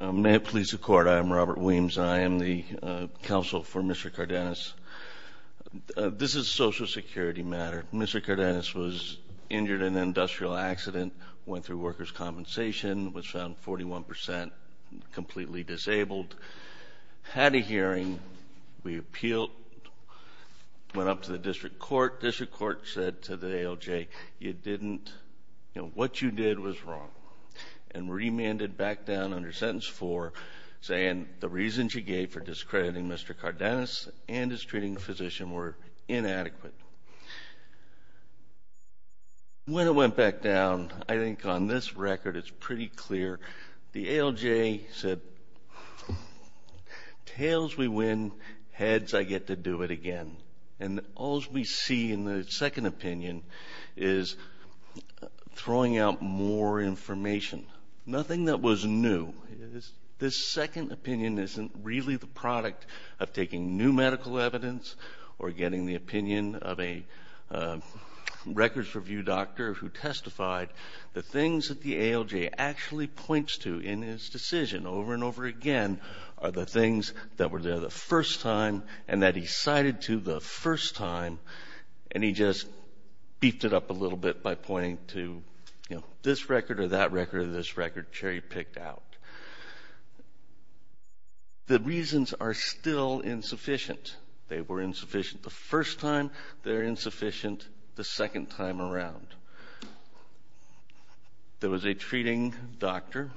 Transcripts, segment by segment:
May it please the Court, I am Robert Williams. I am the counsel for Mr. Cardenas. This is a Social Security matter. Mr. Cardenas was injured in an industrial accident, went through workers' compensation, was found 41% completely disabled, had a hearing, we appealed, went up to the District Court. The District Court said to the ALJ, you didn't, you know, what you did was wrong, and remanded back down to the District Court. When it went back down, I think on this record it's pretty clear, the ALJ said, tails we win, heads I get to do it again. And all we see in the second opinion is throwing out more information. Nothing that was new. This second opinion isn't really the product of taking new medical evidence or getting the opinion of a records review doctor who testified. But the things that the ALJ actually points to in his decision over and over again are the things that were there the first time, and that he cited to the first time, and he just beefed it up a little bit by pointing to, you know, this record or that record or this record Cherry picked out. The reasons are still insufficient. They were insufficient the first time, they're insufficient the second time around. There was a treating doctor,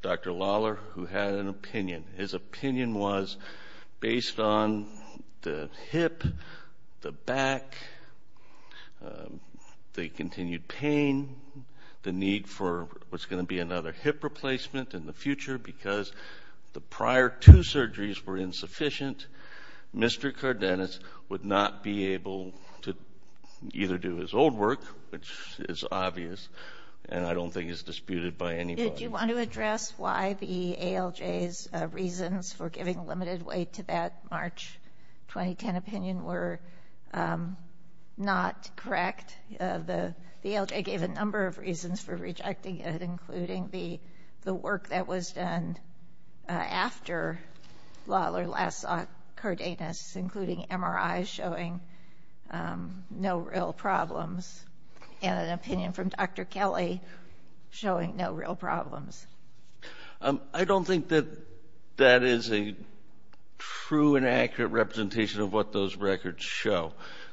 Dr. Lawler, who had an opinion. His opinion was based on the hip, the back, the continued pain, the need for what's going to be another hip replacement, and the future, because the prior two surgeries were insufficient, Mr. Cardenas would not be able to either do his old work, which is obvious, and I don't think it's disputed by anybody. Did you want to address why the ALJ's reasons for giving limited weight to that March 2010 opinion were not correct? The ALJ gave a number of reasons for rejecting it, including the work that was done after Lawler last saw Cardenas, including MRIs showing no real problems, and an opinion from Dr. Kelly showing no real problems. I don't think that that is a true and accurate representation of what those records show.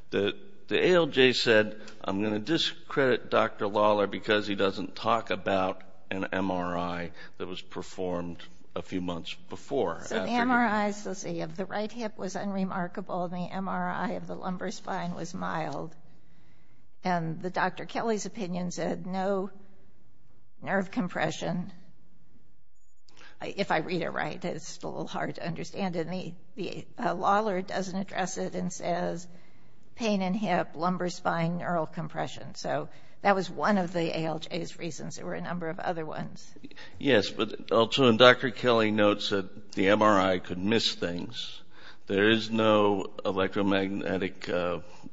The ALJ said, I'm going to discredit Dr. Lawler because he doesn't talk about an MRI that was performed a few months before. The MRI of the right hip was unremarkable. The MRI of the lumbar spine was mild. Dr. Kelly's opinion said no nerve compression. If I read it right, it's a little hard to understand. Lawler doesn't address it and says pain in hip, lumbar spine, neural compression. That was one of the ALJ's reasons. There were a number of other ones. Yes, but also Dr. Kelly notes that the MRI could miss things. There is no electromagnetic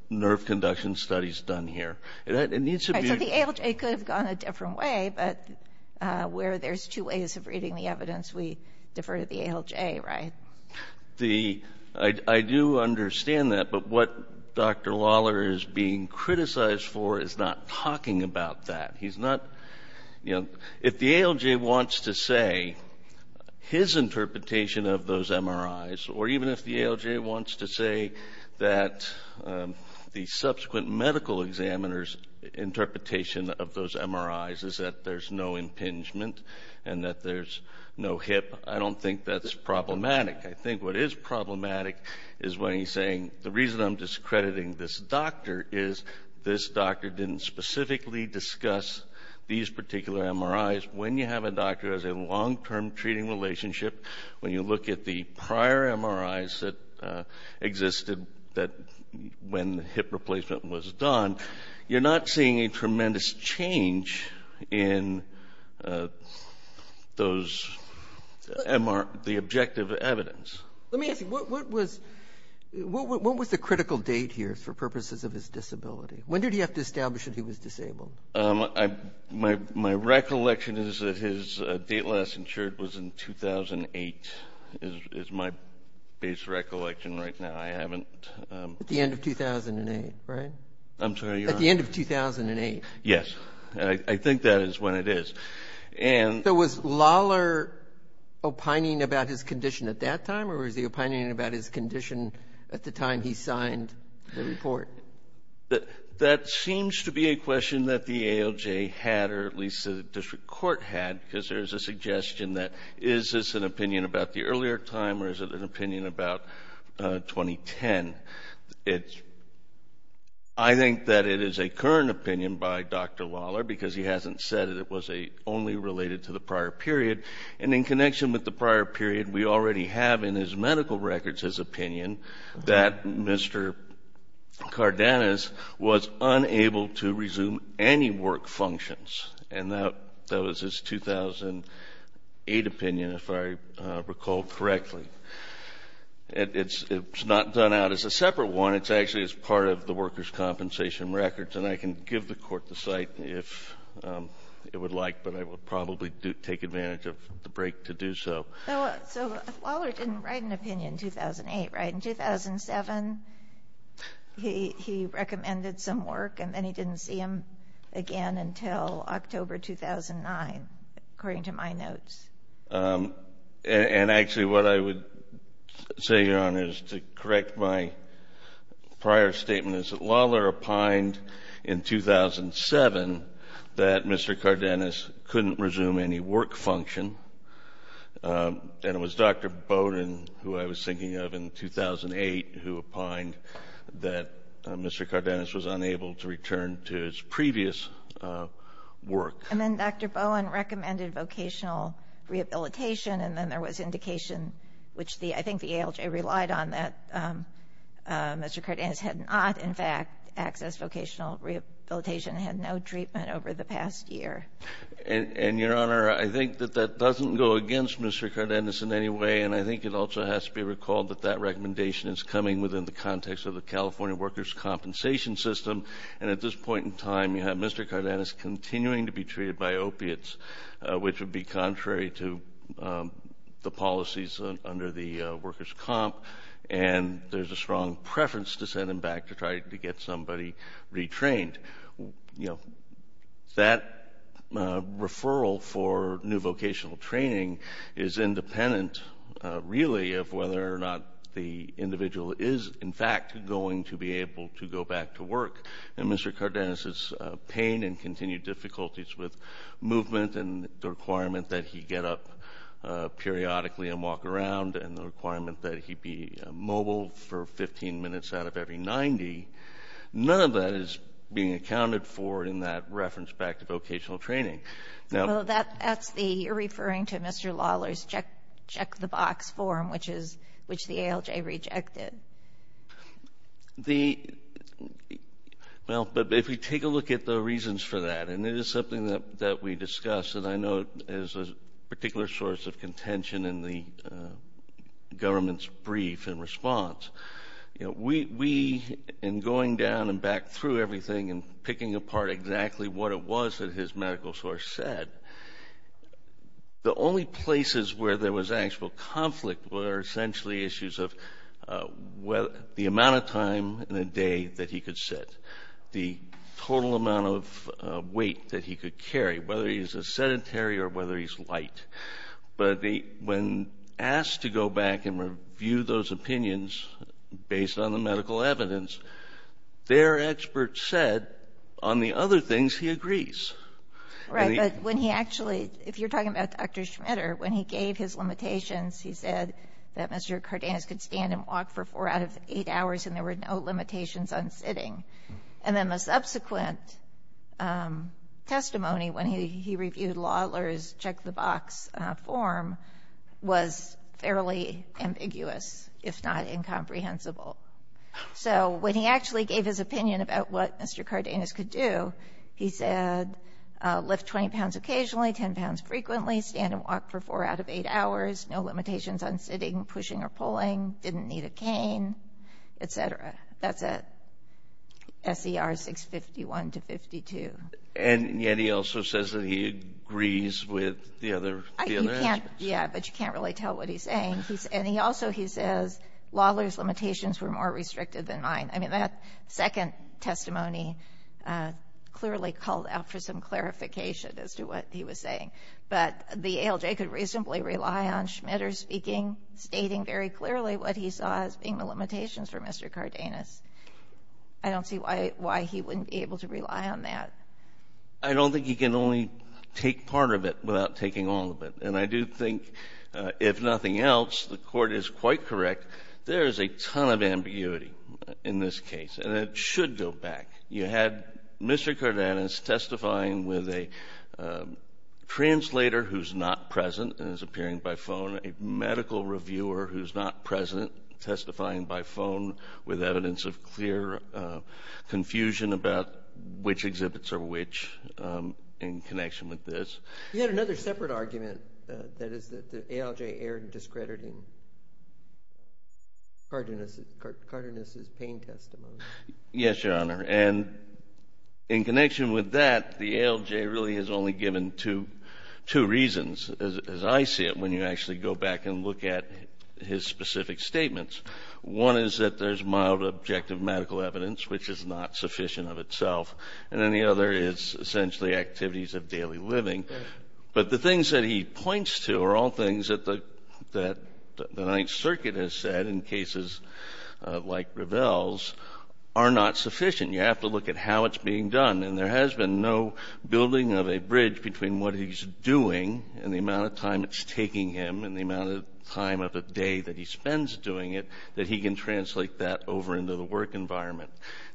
nerve conduction studies done here. So the ALJ could have gone a different way, but where there's two ways of reading the evidence, we defer to the ALJ, right? I do understand that, but what Dr. Lawler is being criticized for is not talking about that. If the ALJ wants to say his interpretation of those MRIs, or even if the ALJ wants to say that the subsequent medical examiner's interpretation of those MRIs is that there's no impingement and that there's no hip, I don't think that's problematic. I think what is problematic is when he's saying the reason I'm discrediting this doctor is this doctor didn't specifically discuss these particular MRIs. When you have a doctor who has a long-term treating relationship, when you look at the prior MRIs that existed when the hip replacement was done, you're not seeing a tremendous change in the objective evidence. Let me ask you, what was the critical date here for purposes of his disability? When did he have to establish that he was disabled? My recollection is that his date last insured was in 2008, is my base recollection right now. I haven't... At the end of 2008, right? I'm sorry, your Honor? At the end of 2008. Yes. I think that is when it is. So was Lawler opining about his condition at that time, or was he opining about his condition at the time he signed the report? That seems to be a question that the ALJ had, or at least the district court had, because there's a suggestion that is this an opinion about the earlier time, or is it an opinion about 2010? I think that it is a current opinion by Dr. Lawler, because he hasn't said that it was only related to the prior period. And in connection with the prior period, we already have in his medical records his opinion that Mr. Cardenas was unable to resume any work functions. And that was his 2008 opinion, if I recall correctly. It's not done out as a separate one. It's actually as part of the workers' compensation records, and I can give the court the site if it would like, but I would probably take advantage of the break to do so. So Lawler didn't write an opinion in 2008, right? In 2007, he recommended some work, and then he didn't see him again until October 2009, according to my notes. And actually, what I would say, Your Honor, is to correct my prior statement, is that Lawler opined in 2007 that Mr. Cardenas couldn't resume any work function, and it was Dr. Bowen, who I was thinking of in 2008, who opined that Mr. Cardenas was unable to return to his previous work. And then Dr. Bowen recommended vocational rehabilitation, and then there was indication, which I think the ALJ relied on, that Mr. Cardenas had not, in fact, accessed vocational rehabilitation and had no treatment over the past year. And, Your Honor, I think that that doesn't go against Mr. Cardenas in any way, and I think it also has to be recalled that that recommendation is coming within the context of the California workers' compensation system, and at this point in time, you have Mr. Cardenas continuing to be treated by opiates, which would be contrary to the policies under the workers' comp, and there's a strong preference to send him back to try to get somebody retrained. And, you know, that referral for new vocational training is independent, really, of whether or not the individual is, in fact, going to be able to go back to work. And Mr. Cardenas' pain and continued difficulties with movement and the requirement that he get up periodically and walk around and the requirement that he be mobile for 15 minutes out of every 90, none of that is being accounted for in that reference back to vocational training. Well, that's the, you're referring to Mr. Lawler's check the box form, which the ALJ rejected. The, well, if you take a look at the reasons for that, and it is something that we discussed, and I know it is a particular source of contention in the government's brief in response. You know, we, in going down and back through everything and picking apart exactly what it was that his medical source said, the only places where there was actual conflict were essentially issues of the amount of time in a day that he could sit, the total amount of weight that he could carry, whether he's a sedentary or whether he's light. But when asked to go back and review those opinions based on the medical evidence, their experts said on the other things he agrees. Right, but when he actually, if you're talking about Dr. Schmitter, when he gave his limitations, he said that Mr. Cardenas could stand and walk for four out of eight hours and there were no limitations on sitting. And then the subsequent testimony when he reviewed Lawler's check the box form was fairly ambiguous, if not incomprehensible. So when he actually gave his opinion about what Mr. Cardenas could do, he said, lift 20 pounds occasionally, 10 pounds frequently, stand and walk for four out of eight hours, no limitations on sitting, pushing or pulling, didn't need a cane, etc. That's it. SER 651 to 52. And yet he also says that he agrees with the other. You can't, yeah, but you can't really tell what he's saying. And he also, he says, Lawler's limitations were more restricted than mine. I mean, that second testimony clearly called out for some clarification as to what he was saying. But the ALJ could reasonably rely on Schmitter speaking, stating very clearly what he saw as being the limitations for Mr. Cardenas. I don't see why he wouldn't be able to rely on that. I don't think he can only take part of it without taking all of it. And I do think, if nothing else, the Court is quite correct. There is a ton of ambiguity in this case, and it should go back. You had Mr. Cardenas testifying with a translator who's not present and is appearing by phone, a medical reviewer who's not present, testifying by phone with evidence of clear confusion about which exhibits are which in connection with this. You had another separate argument, that is that the ALJ erred in discrediting Cardenas' pain testimony. Yes, Your Honor, and in connection with that, the ALJ really is only given two reasons, as I see it, when you actually go back and look at his specific statements. One is that there's mild objective medical evidence, which is not sufficient of itself. And then the other is essentially activities of daily living. But the things that he points to are all things that the Ninth Circuit has said in cases like Ravel's are not sufficient. You have to look at how it's being done. And there has been no building of a bridge between what he's doing and the amount of time it's taking him and the amount of time of a day that he spends doing it that he can translate that over into the work environment.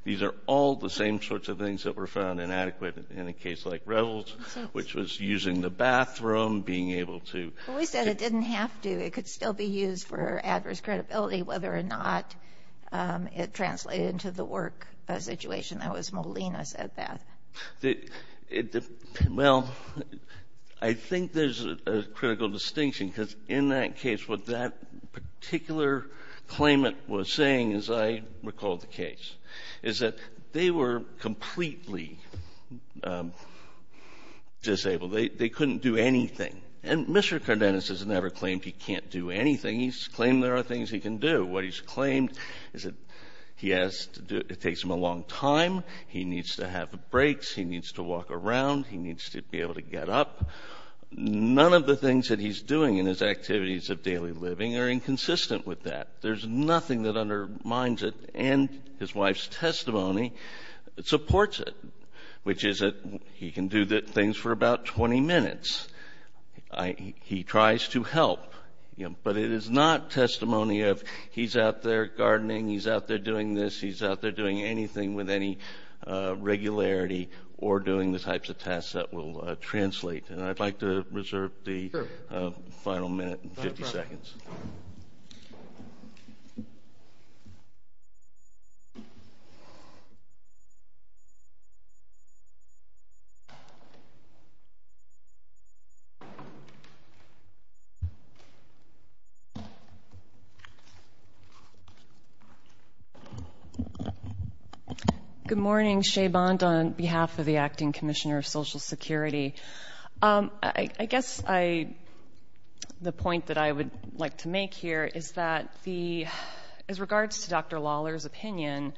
These are all the same sorts of things that were found inadequate in a case like Ravel's, which was using the bathroom, being able to – Well, we said it didn't have to. It could still be used for adverse credibility whether or not it translated into the work situation. That was Molina said that. Well, I think there's a critical distinction because in that case, what that particular claimant was saying, as I recall the case, is that they were completely disabled. They couldn't do anything. And Mr. Cardenas has never claimed he can't do anything. He's claimed there are things he can do. He has to do – it takes him a long time. He needs to have breaks. He needs to walk around. He needs to be able to get up. None of the things that he's doing in his activities of daily living are inconsistent with that. There's nothing that undermines it. And his wife's testimony supports it, which is that he can do things for about 20 minutes. He tries to help. But it is not testimony of he's out there gardening. He's out there doing this. He's out there doing anything with any regularity or doing the types of tasks that will translate. And I'd like to reserve the final minute and 50 seconds. Good morning. Shea Bond on behalf of the Acting Commissioner of Social Security. I guess I – the point that I would like to make here is that the – as regards to Dr. Lawler's opinion,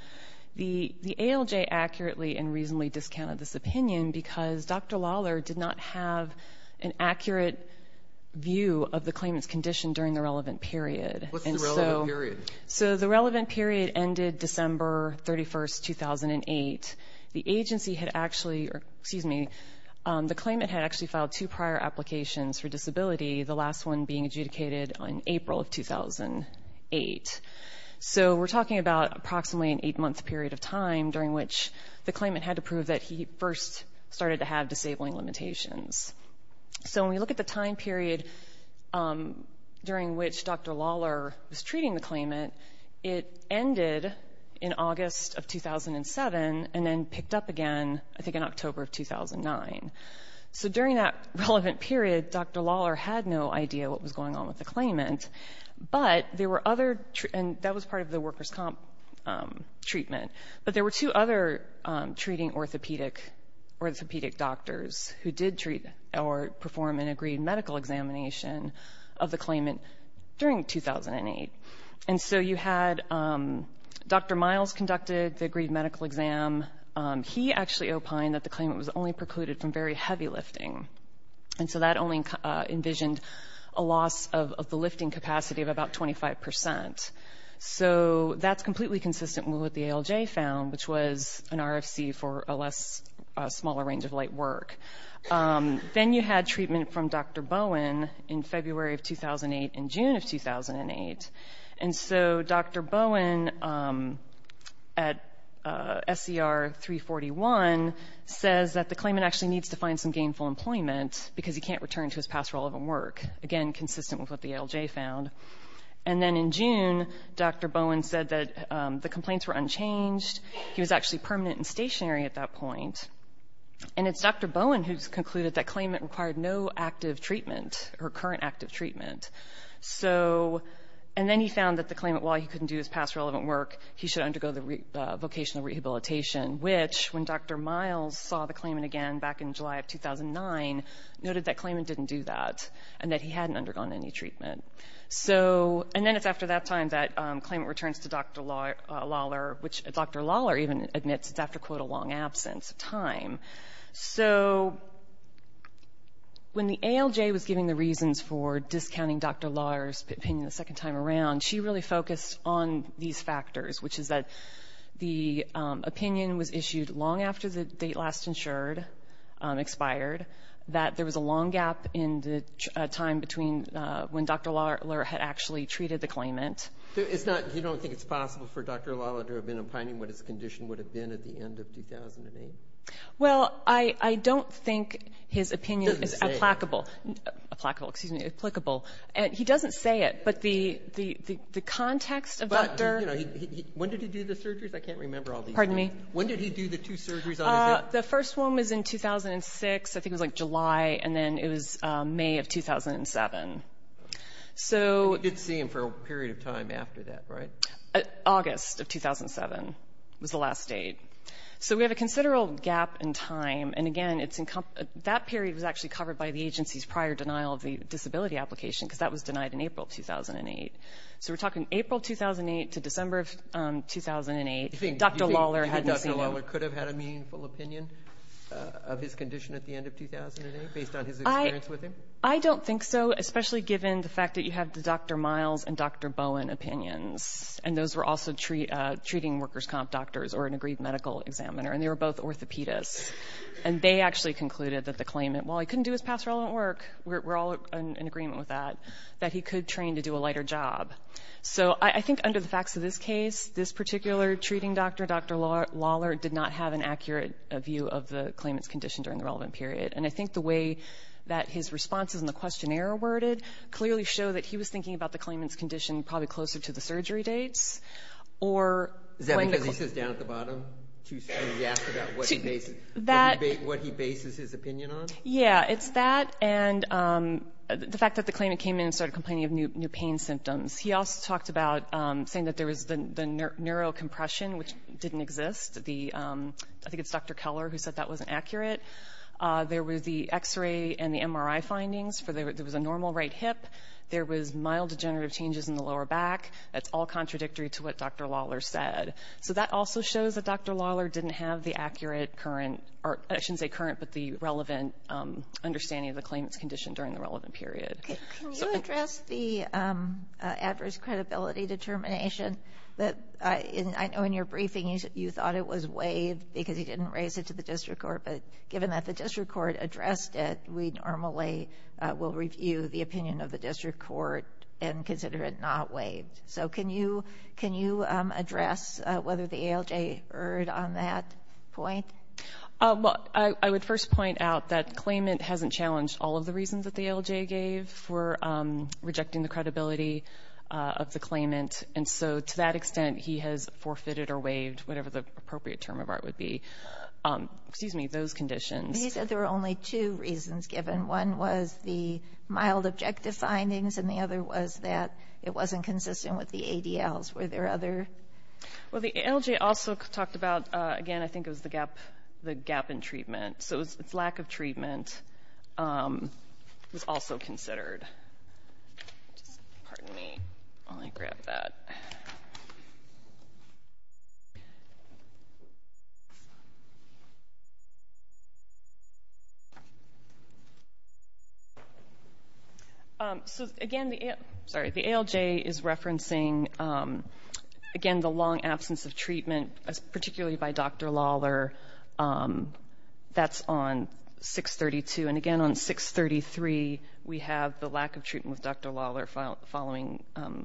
the ALJ accurately and reasonably discounted this opinion because Dr. Lawler did not have an accurate view of the claimant's condition during the relevant period. What's the relevant period? So the relevant period ended December 31, 2008. The agency had actually – or, excuse me, the claimant had actually filed two prior applications for disability, the last one being adjudicated on April of 2008. So we're talking about approximately an eight-month period of time during which the claimant had to prove that he first started to have disabling limitations. So when we look at the time period during which Dr. Lawler was treating the claimant, it ended in August of 2007 and then picked up again, I think, in October of 2009. So during that relevant period, Dr. Lawler had no idea what was going on with the claimant. But there were other – and that was part of the workers' comp treatment. But there were two other treating orthopedic doctors who did treat or perform an agreed medical examination of the claimant during 2008. And so you had – Dr. Miles conducted the agreed medical exam. He actually opined that the claimant was only precluded from very heavy lifting. And so that only envisioned a loss of the lifting capacity of about 25 percent. So that's completely consistent with what the ALJ found, which was an RFC for a less – a smaller range of light work. Then you had treatment from Dr. Bowen in February of 2008 and June of 2008. And so Dr. Bowen at SCR 341 says that the claimant actually needs to find some gainful employment because he can't return to his past relevant work, again, consistent with what the ALJ found. And then in June, Dr. Bowen said that the complaints were unchanged. He was actually permanent and stationary at that point. And it's Dr. Bowen who's concluded that claimant required no active treatment or current active treatment. So – and then he found that the claimant, while he couldn't do his past relevant work, he should undergo the vocational rehabilitation, which, when Dr. Miles saw the claimant again back in July of 2009, noted that claimant didn't do that and that he hadn't undergone any treatment. So – and then it's after that time that claimant returns to Dr. Lawler, which Dr. Lawler even admits it's after, quote, a long absence of time. So when the ALJ was giving the reasons for discounting Dr. Lawler's opinion the second time around, she really focused on these factors, which is that the opinion was issued long after the date last insured expired, that there was a long gap in the time between when Dr. Lawler had actually treated the claimant. It's not – you don't think it's possible for Dr. Lawler to have been opining what his condition would have been at the end of 2008? Well, I don't think his opinion is applicable. He doesn't say it. But the context of Dr. – But, you know, when did he do the surgeries? I can't remember all these. Pardon me? When did he do the two surgeries on his head? The first one was in 2006. I think it was, like, July, and then it was May of 2007. So – You did see him for a period of time after that, right? August of 2007 was the last date. So we have a considerable gap in time, and, again, it's – that period was actually covered by the agency's prior denial of the disability application because that was denied in April of 2008. So we're talking April of 2008 to December of 2008, Dr. Lawler hadn't seen him. Do you think Dr. Lawler could have had a meaningful opinion of his condition at the end of 2008 based on his experience with him? I don't think so, especially given the fact that you have the Dr. Miles and Dr. Bowen opinions, and those were also treating workers' comp doctors or an agreed medical examiner, and they were both orthopedists. And they actually concluded that the claimant, while he couldn't do his past relevant work, we're all in agreement with that, that he could train to do a lighter job. So I think under the facts of this case, this particular treating doctor, Dr. Lawler, did not have an accurate view of the claimant's condition during the relevant period. And I think the way that his responses in the questionnaire were worded clearly show that he was thinking about the claimant's condition probably closer to the surgery dates. Is that because he sits down at the bottom and he's asked about what he bases his opinion on? Yeah, it's that and the fact that the claimant came in and started complaining of new pain symptoms. He also talked about saying that there was the neurocompression, which didn't exist. I think it's Dr. Keller who said that wasn't accurate. There were the X-ray and the MRI findings. There was a normal right hip. There was mild degenerative changes in the lower back. That's all contradictory to what Dr. Lawler said. So that also shows that Dr. Lawler didn't have the accurate current, or I shouldn't say current, but the relevant understanding of the claimant's condition during the relevant period. Can you address the adverse credibility determination? I know in your briefing you thought it was waived because he didn't raise it to the district court, but given that the district court addressed it, we normally will review the opinion of the district court and consider it not waived. So can you address whether the ALJ erred on that point? Well, I would first point out that the claimant hasn't challenged all of the reasons that the ALJ gave for rejecting the credibility of the claimant, and so to that extent he has forfeited or waived, whatever the appropriate term of art would be. Excuse me, those conditions. You said there were only two reasons given. One was the mild objective findings, and the other was that it wasn't consistent with the ADLs. Were there other? Well, the ALJ also talked about, again, I think it was the gap in treatment. So its lack of treatment was also considered. Pardon me while I grab that. So, again, the ALJ is referencing, again, the long absence of treatment, particularly by Dr. Lawler. That's on 632. And, again, on 633 we have the lack of treatment with Dr. Lawler following the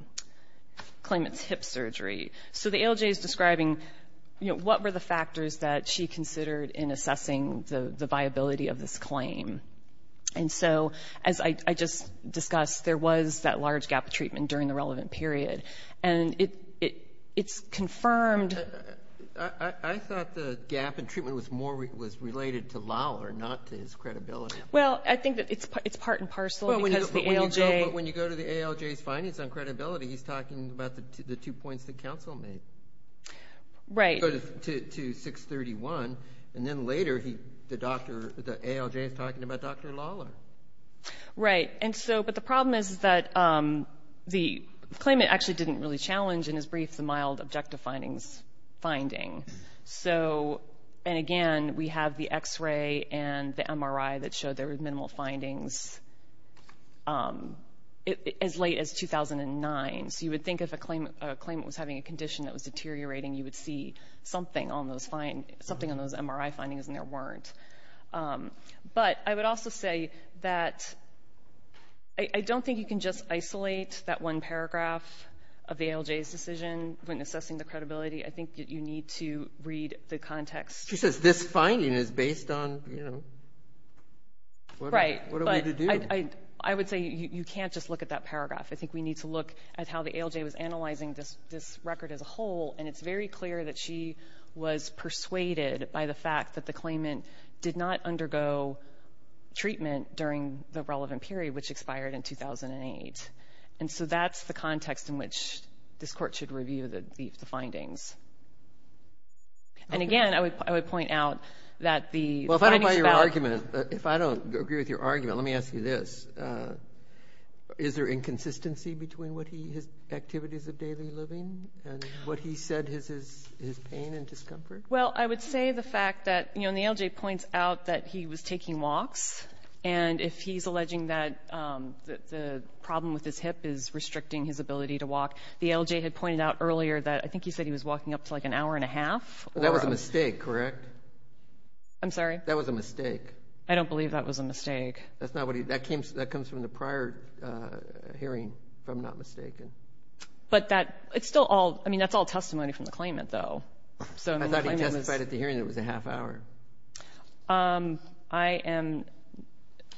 claimant's hip surgery. So the ALJ is describing, you know, what were the factors that she considered in assessing the viability of this claim. And so, as I just discussed, there was that large gap of treatment during the relevant period. And it's confirmed. I thought the gap in treatment was more related to Lawler, not to his credibility. Well, I think that it's part and parcel because the ALJ. But when you go to the ALJ's findings on credibility, he's talking about the two points that counsel made. Right. To 631. And then later the ALJ is talking about Dr. Lawler. Right. But the problem is that the claimant actually didn't really challenge in his brief the mild objective findings finding. So, and, again, we have the X-ray and the MRI that showed there were minimal findings as late as 2009. So you would think if a claimant was having a condition that was deteriorating, you would see something on those MRI findings, and there weren't. But I would also say that I don't think you can just isolate that one paragraph of the ALJ's decision when assessing the credibility. I think that you need to read the context. She says this finding is based on, you know, what are we to do? Right. But I would say you can't just look at that paragraph. I think we need to look at how the ALJ was analyzing this record as a whole. And it's very clear that she was persuaded by the fact that the claimant did not undergo treatment during the relevant period, which expired in 2008. And so that's the context in which this court should review the findings. And, again, I would point out that the findings about the ALJ. Well, if I don't buy your argument, if I don't agree with your argument, let me ask you this. Is there inconsistency between his activities of daily living and what he said is his pain and discomfort? Well, I would say the fact that, you know, the ALJ points out that he was taking walks, and if he's alleging that the problem with his hip is restricting his ability to walk, the ALJ had pointed out earlier that I think he said he was walking up to like an hour and a half. That was a mistake, correct? I'm sorry? I don't believe that was a mistake. That comes from the prior hearing, if I'm not mistaken. But that's still all testimony from the claimant, though. I thought he testified at the hearing that it was a half hour. I am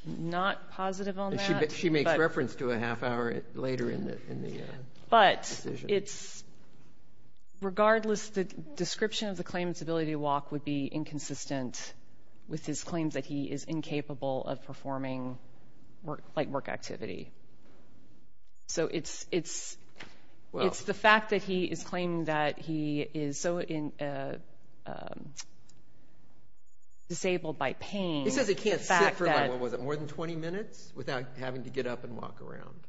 not positive on that. She makes reference to a half hour later in the decision. Regardless, the description of the claimant's ability to walk would be inconsistent with his claim that he is incapable of performing work activity. So it's the fact that he is claiming that he is so disabled by pain. He says he can't sit for more than 20 minutes without having to get up and walk around.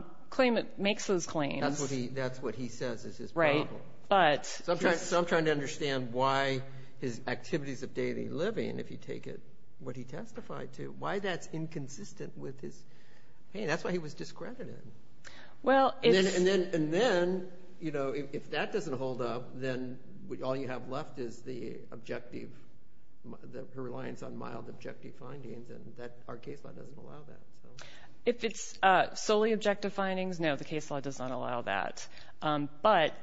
The claimant makes those claims. That's what he says is his problem. So I'm trying to understand why his activities of daily living, if you take what he testified to, why that's inconsistent with his pain. That's why he was discredited. And then, if that doesn't hold up, then all you have left is the reliance on mild objective findings. Our case doesn't allow that. If it's solely objective findings, no, the case law does not allow that. But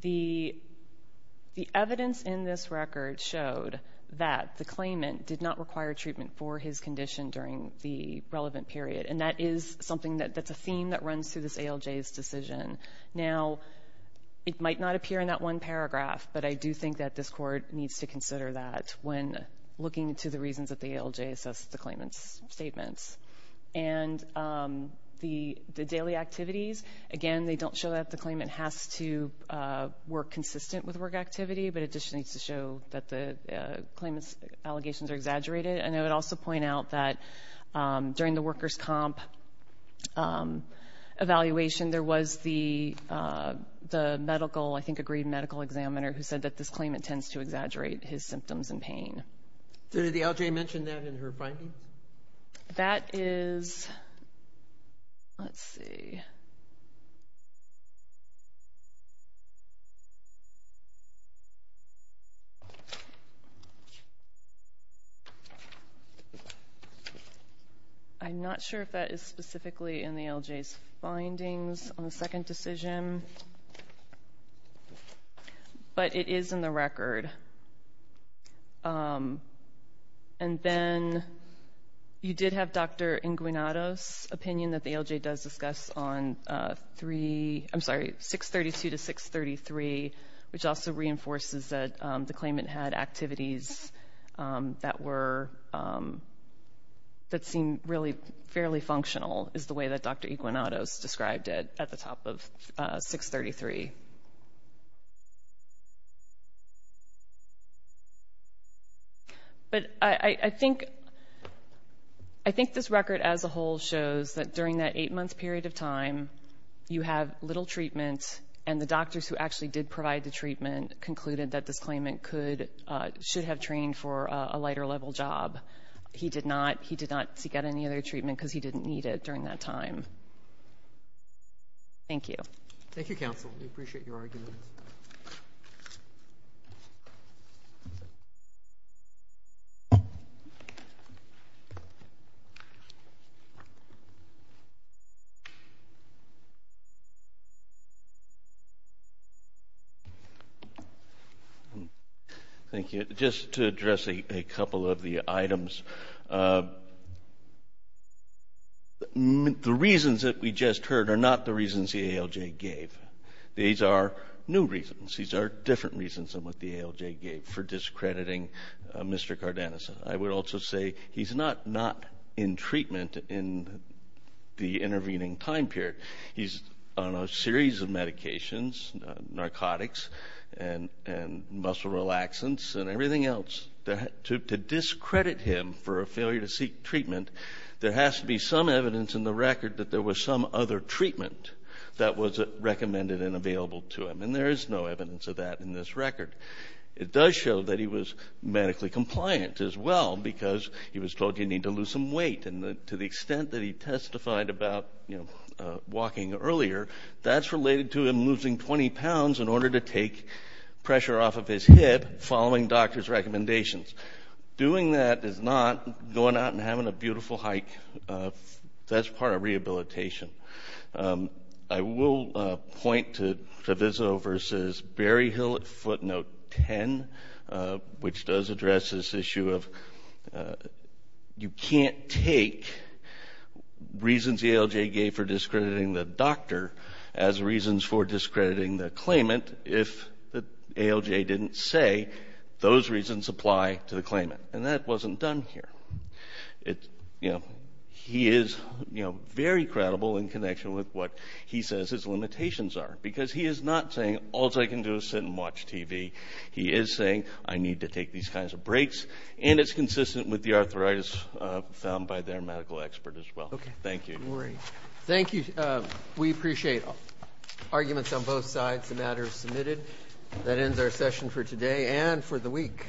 the evidence in this record showed that the claimant did not require treatment for his condition during the relevant period, and that is something that's a theme that runs through this ALJ's decision. Now, it might not appear in that one paragraph, but I do think that this Court needs to consider that when looking to the reasons that the ALJ assesses the claimant's statements. And the daily activities, again, they don't show that the claimant has to work consistent with work activity, but it just needs to show that the claimant's allegations are exaggerated. And I would also point out that during the workers' comp evaluation, there was the medical, I think agreed medical examiner, who said that this claimant tends to exaggerate his symptoms and pain. Did the ALJ mention that in her finding? That is, let's see. I'm not sure if that is specifically in the ALJ's findings on the second decision, but it is in the record. And then you did have Dr. Iguanato's opinion that the ALJ does discuss on 632 to 633, which also reinforces that the claimant had activities that seemed really fairly functional, is the way that Dr. Iguanato's described it at the top of 633. But I think this record as a whole shows that during that eight-month period of time, you have little treatment and the doctors who actually did provide the treatment concluded that this claimant should have trained for a lighter level job. He did not seek out any other treatment because he didn't need it during that time. Thank you. Thank you, counsel. We appreciate your argument. Thank you. Thank you. Just to address a couple of the items, the reasons that we just heard are not the reasons the ALJ gave. These are new reasons. These are different reasons than what the ALJ gave for discrediting Mr. Cardenas. I would also say he's not not in treatment in the intervening time period. He's on a series of medications, narcotics and muscle relaxants and everything else. To discredit him for a failure to seek treatment, there has to be some evidence in the record that there was some other treatment that was recommended and available to him. And there is no evidence of that in this record. It does show that he was medically compliant as well because he was told he needed to lose some weight. And to the extent that he testified about walking earlier, that's related to him losing 20 pounds in order to take pressure off of his hip following doctors' recommendations. Doing that is not going out and having a beautiful hike. That's part of rehabilitation. I will point to Treviso v. Berryhill at footnote 10, which does address this issue of you can't take reasons the ALJ gave for discrediting the doctor as reasons for discrediting the claimant if the ALJ didn't say those reasons apply to the claimant. And that wasn't done here. He is very credible in connection with what he says his limitations are because he is not saying all I can do is sit and watch TV. He is saying I need to take these kinds of breaks, and it's consistent with the arthritis found by their medical expert as well. Thank you. Thank you. We appreciate arguments on both sides. The matter is submitted. That ends our session for today and for the week. Thank you.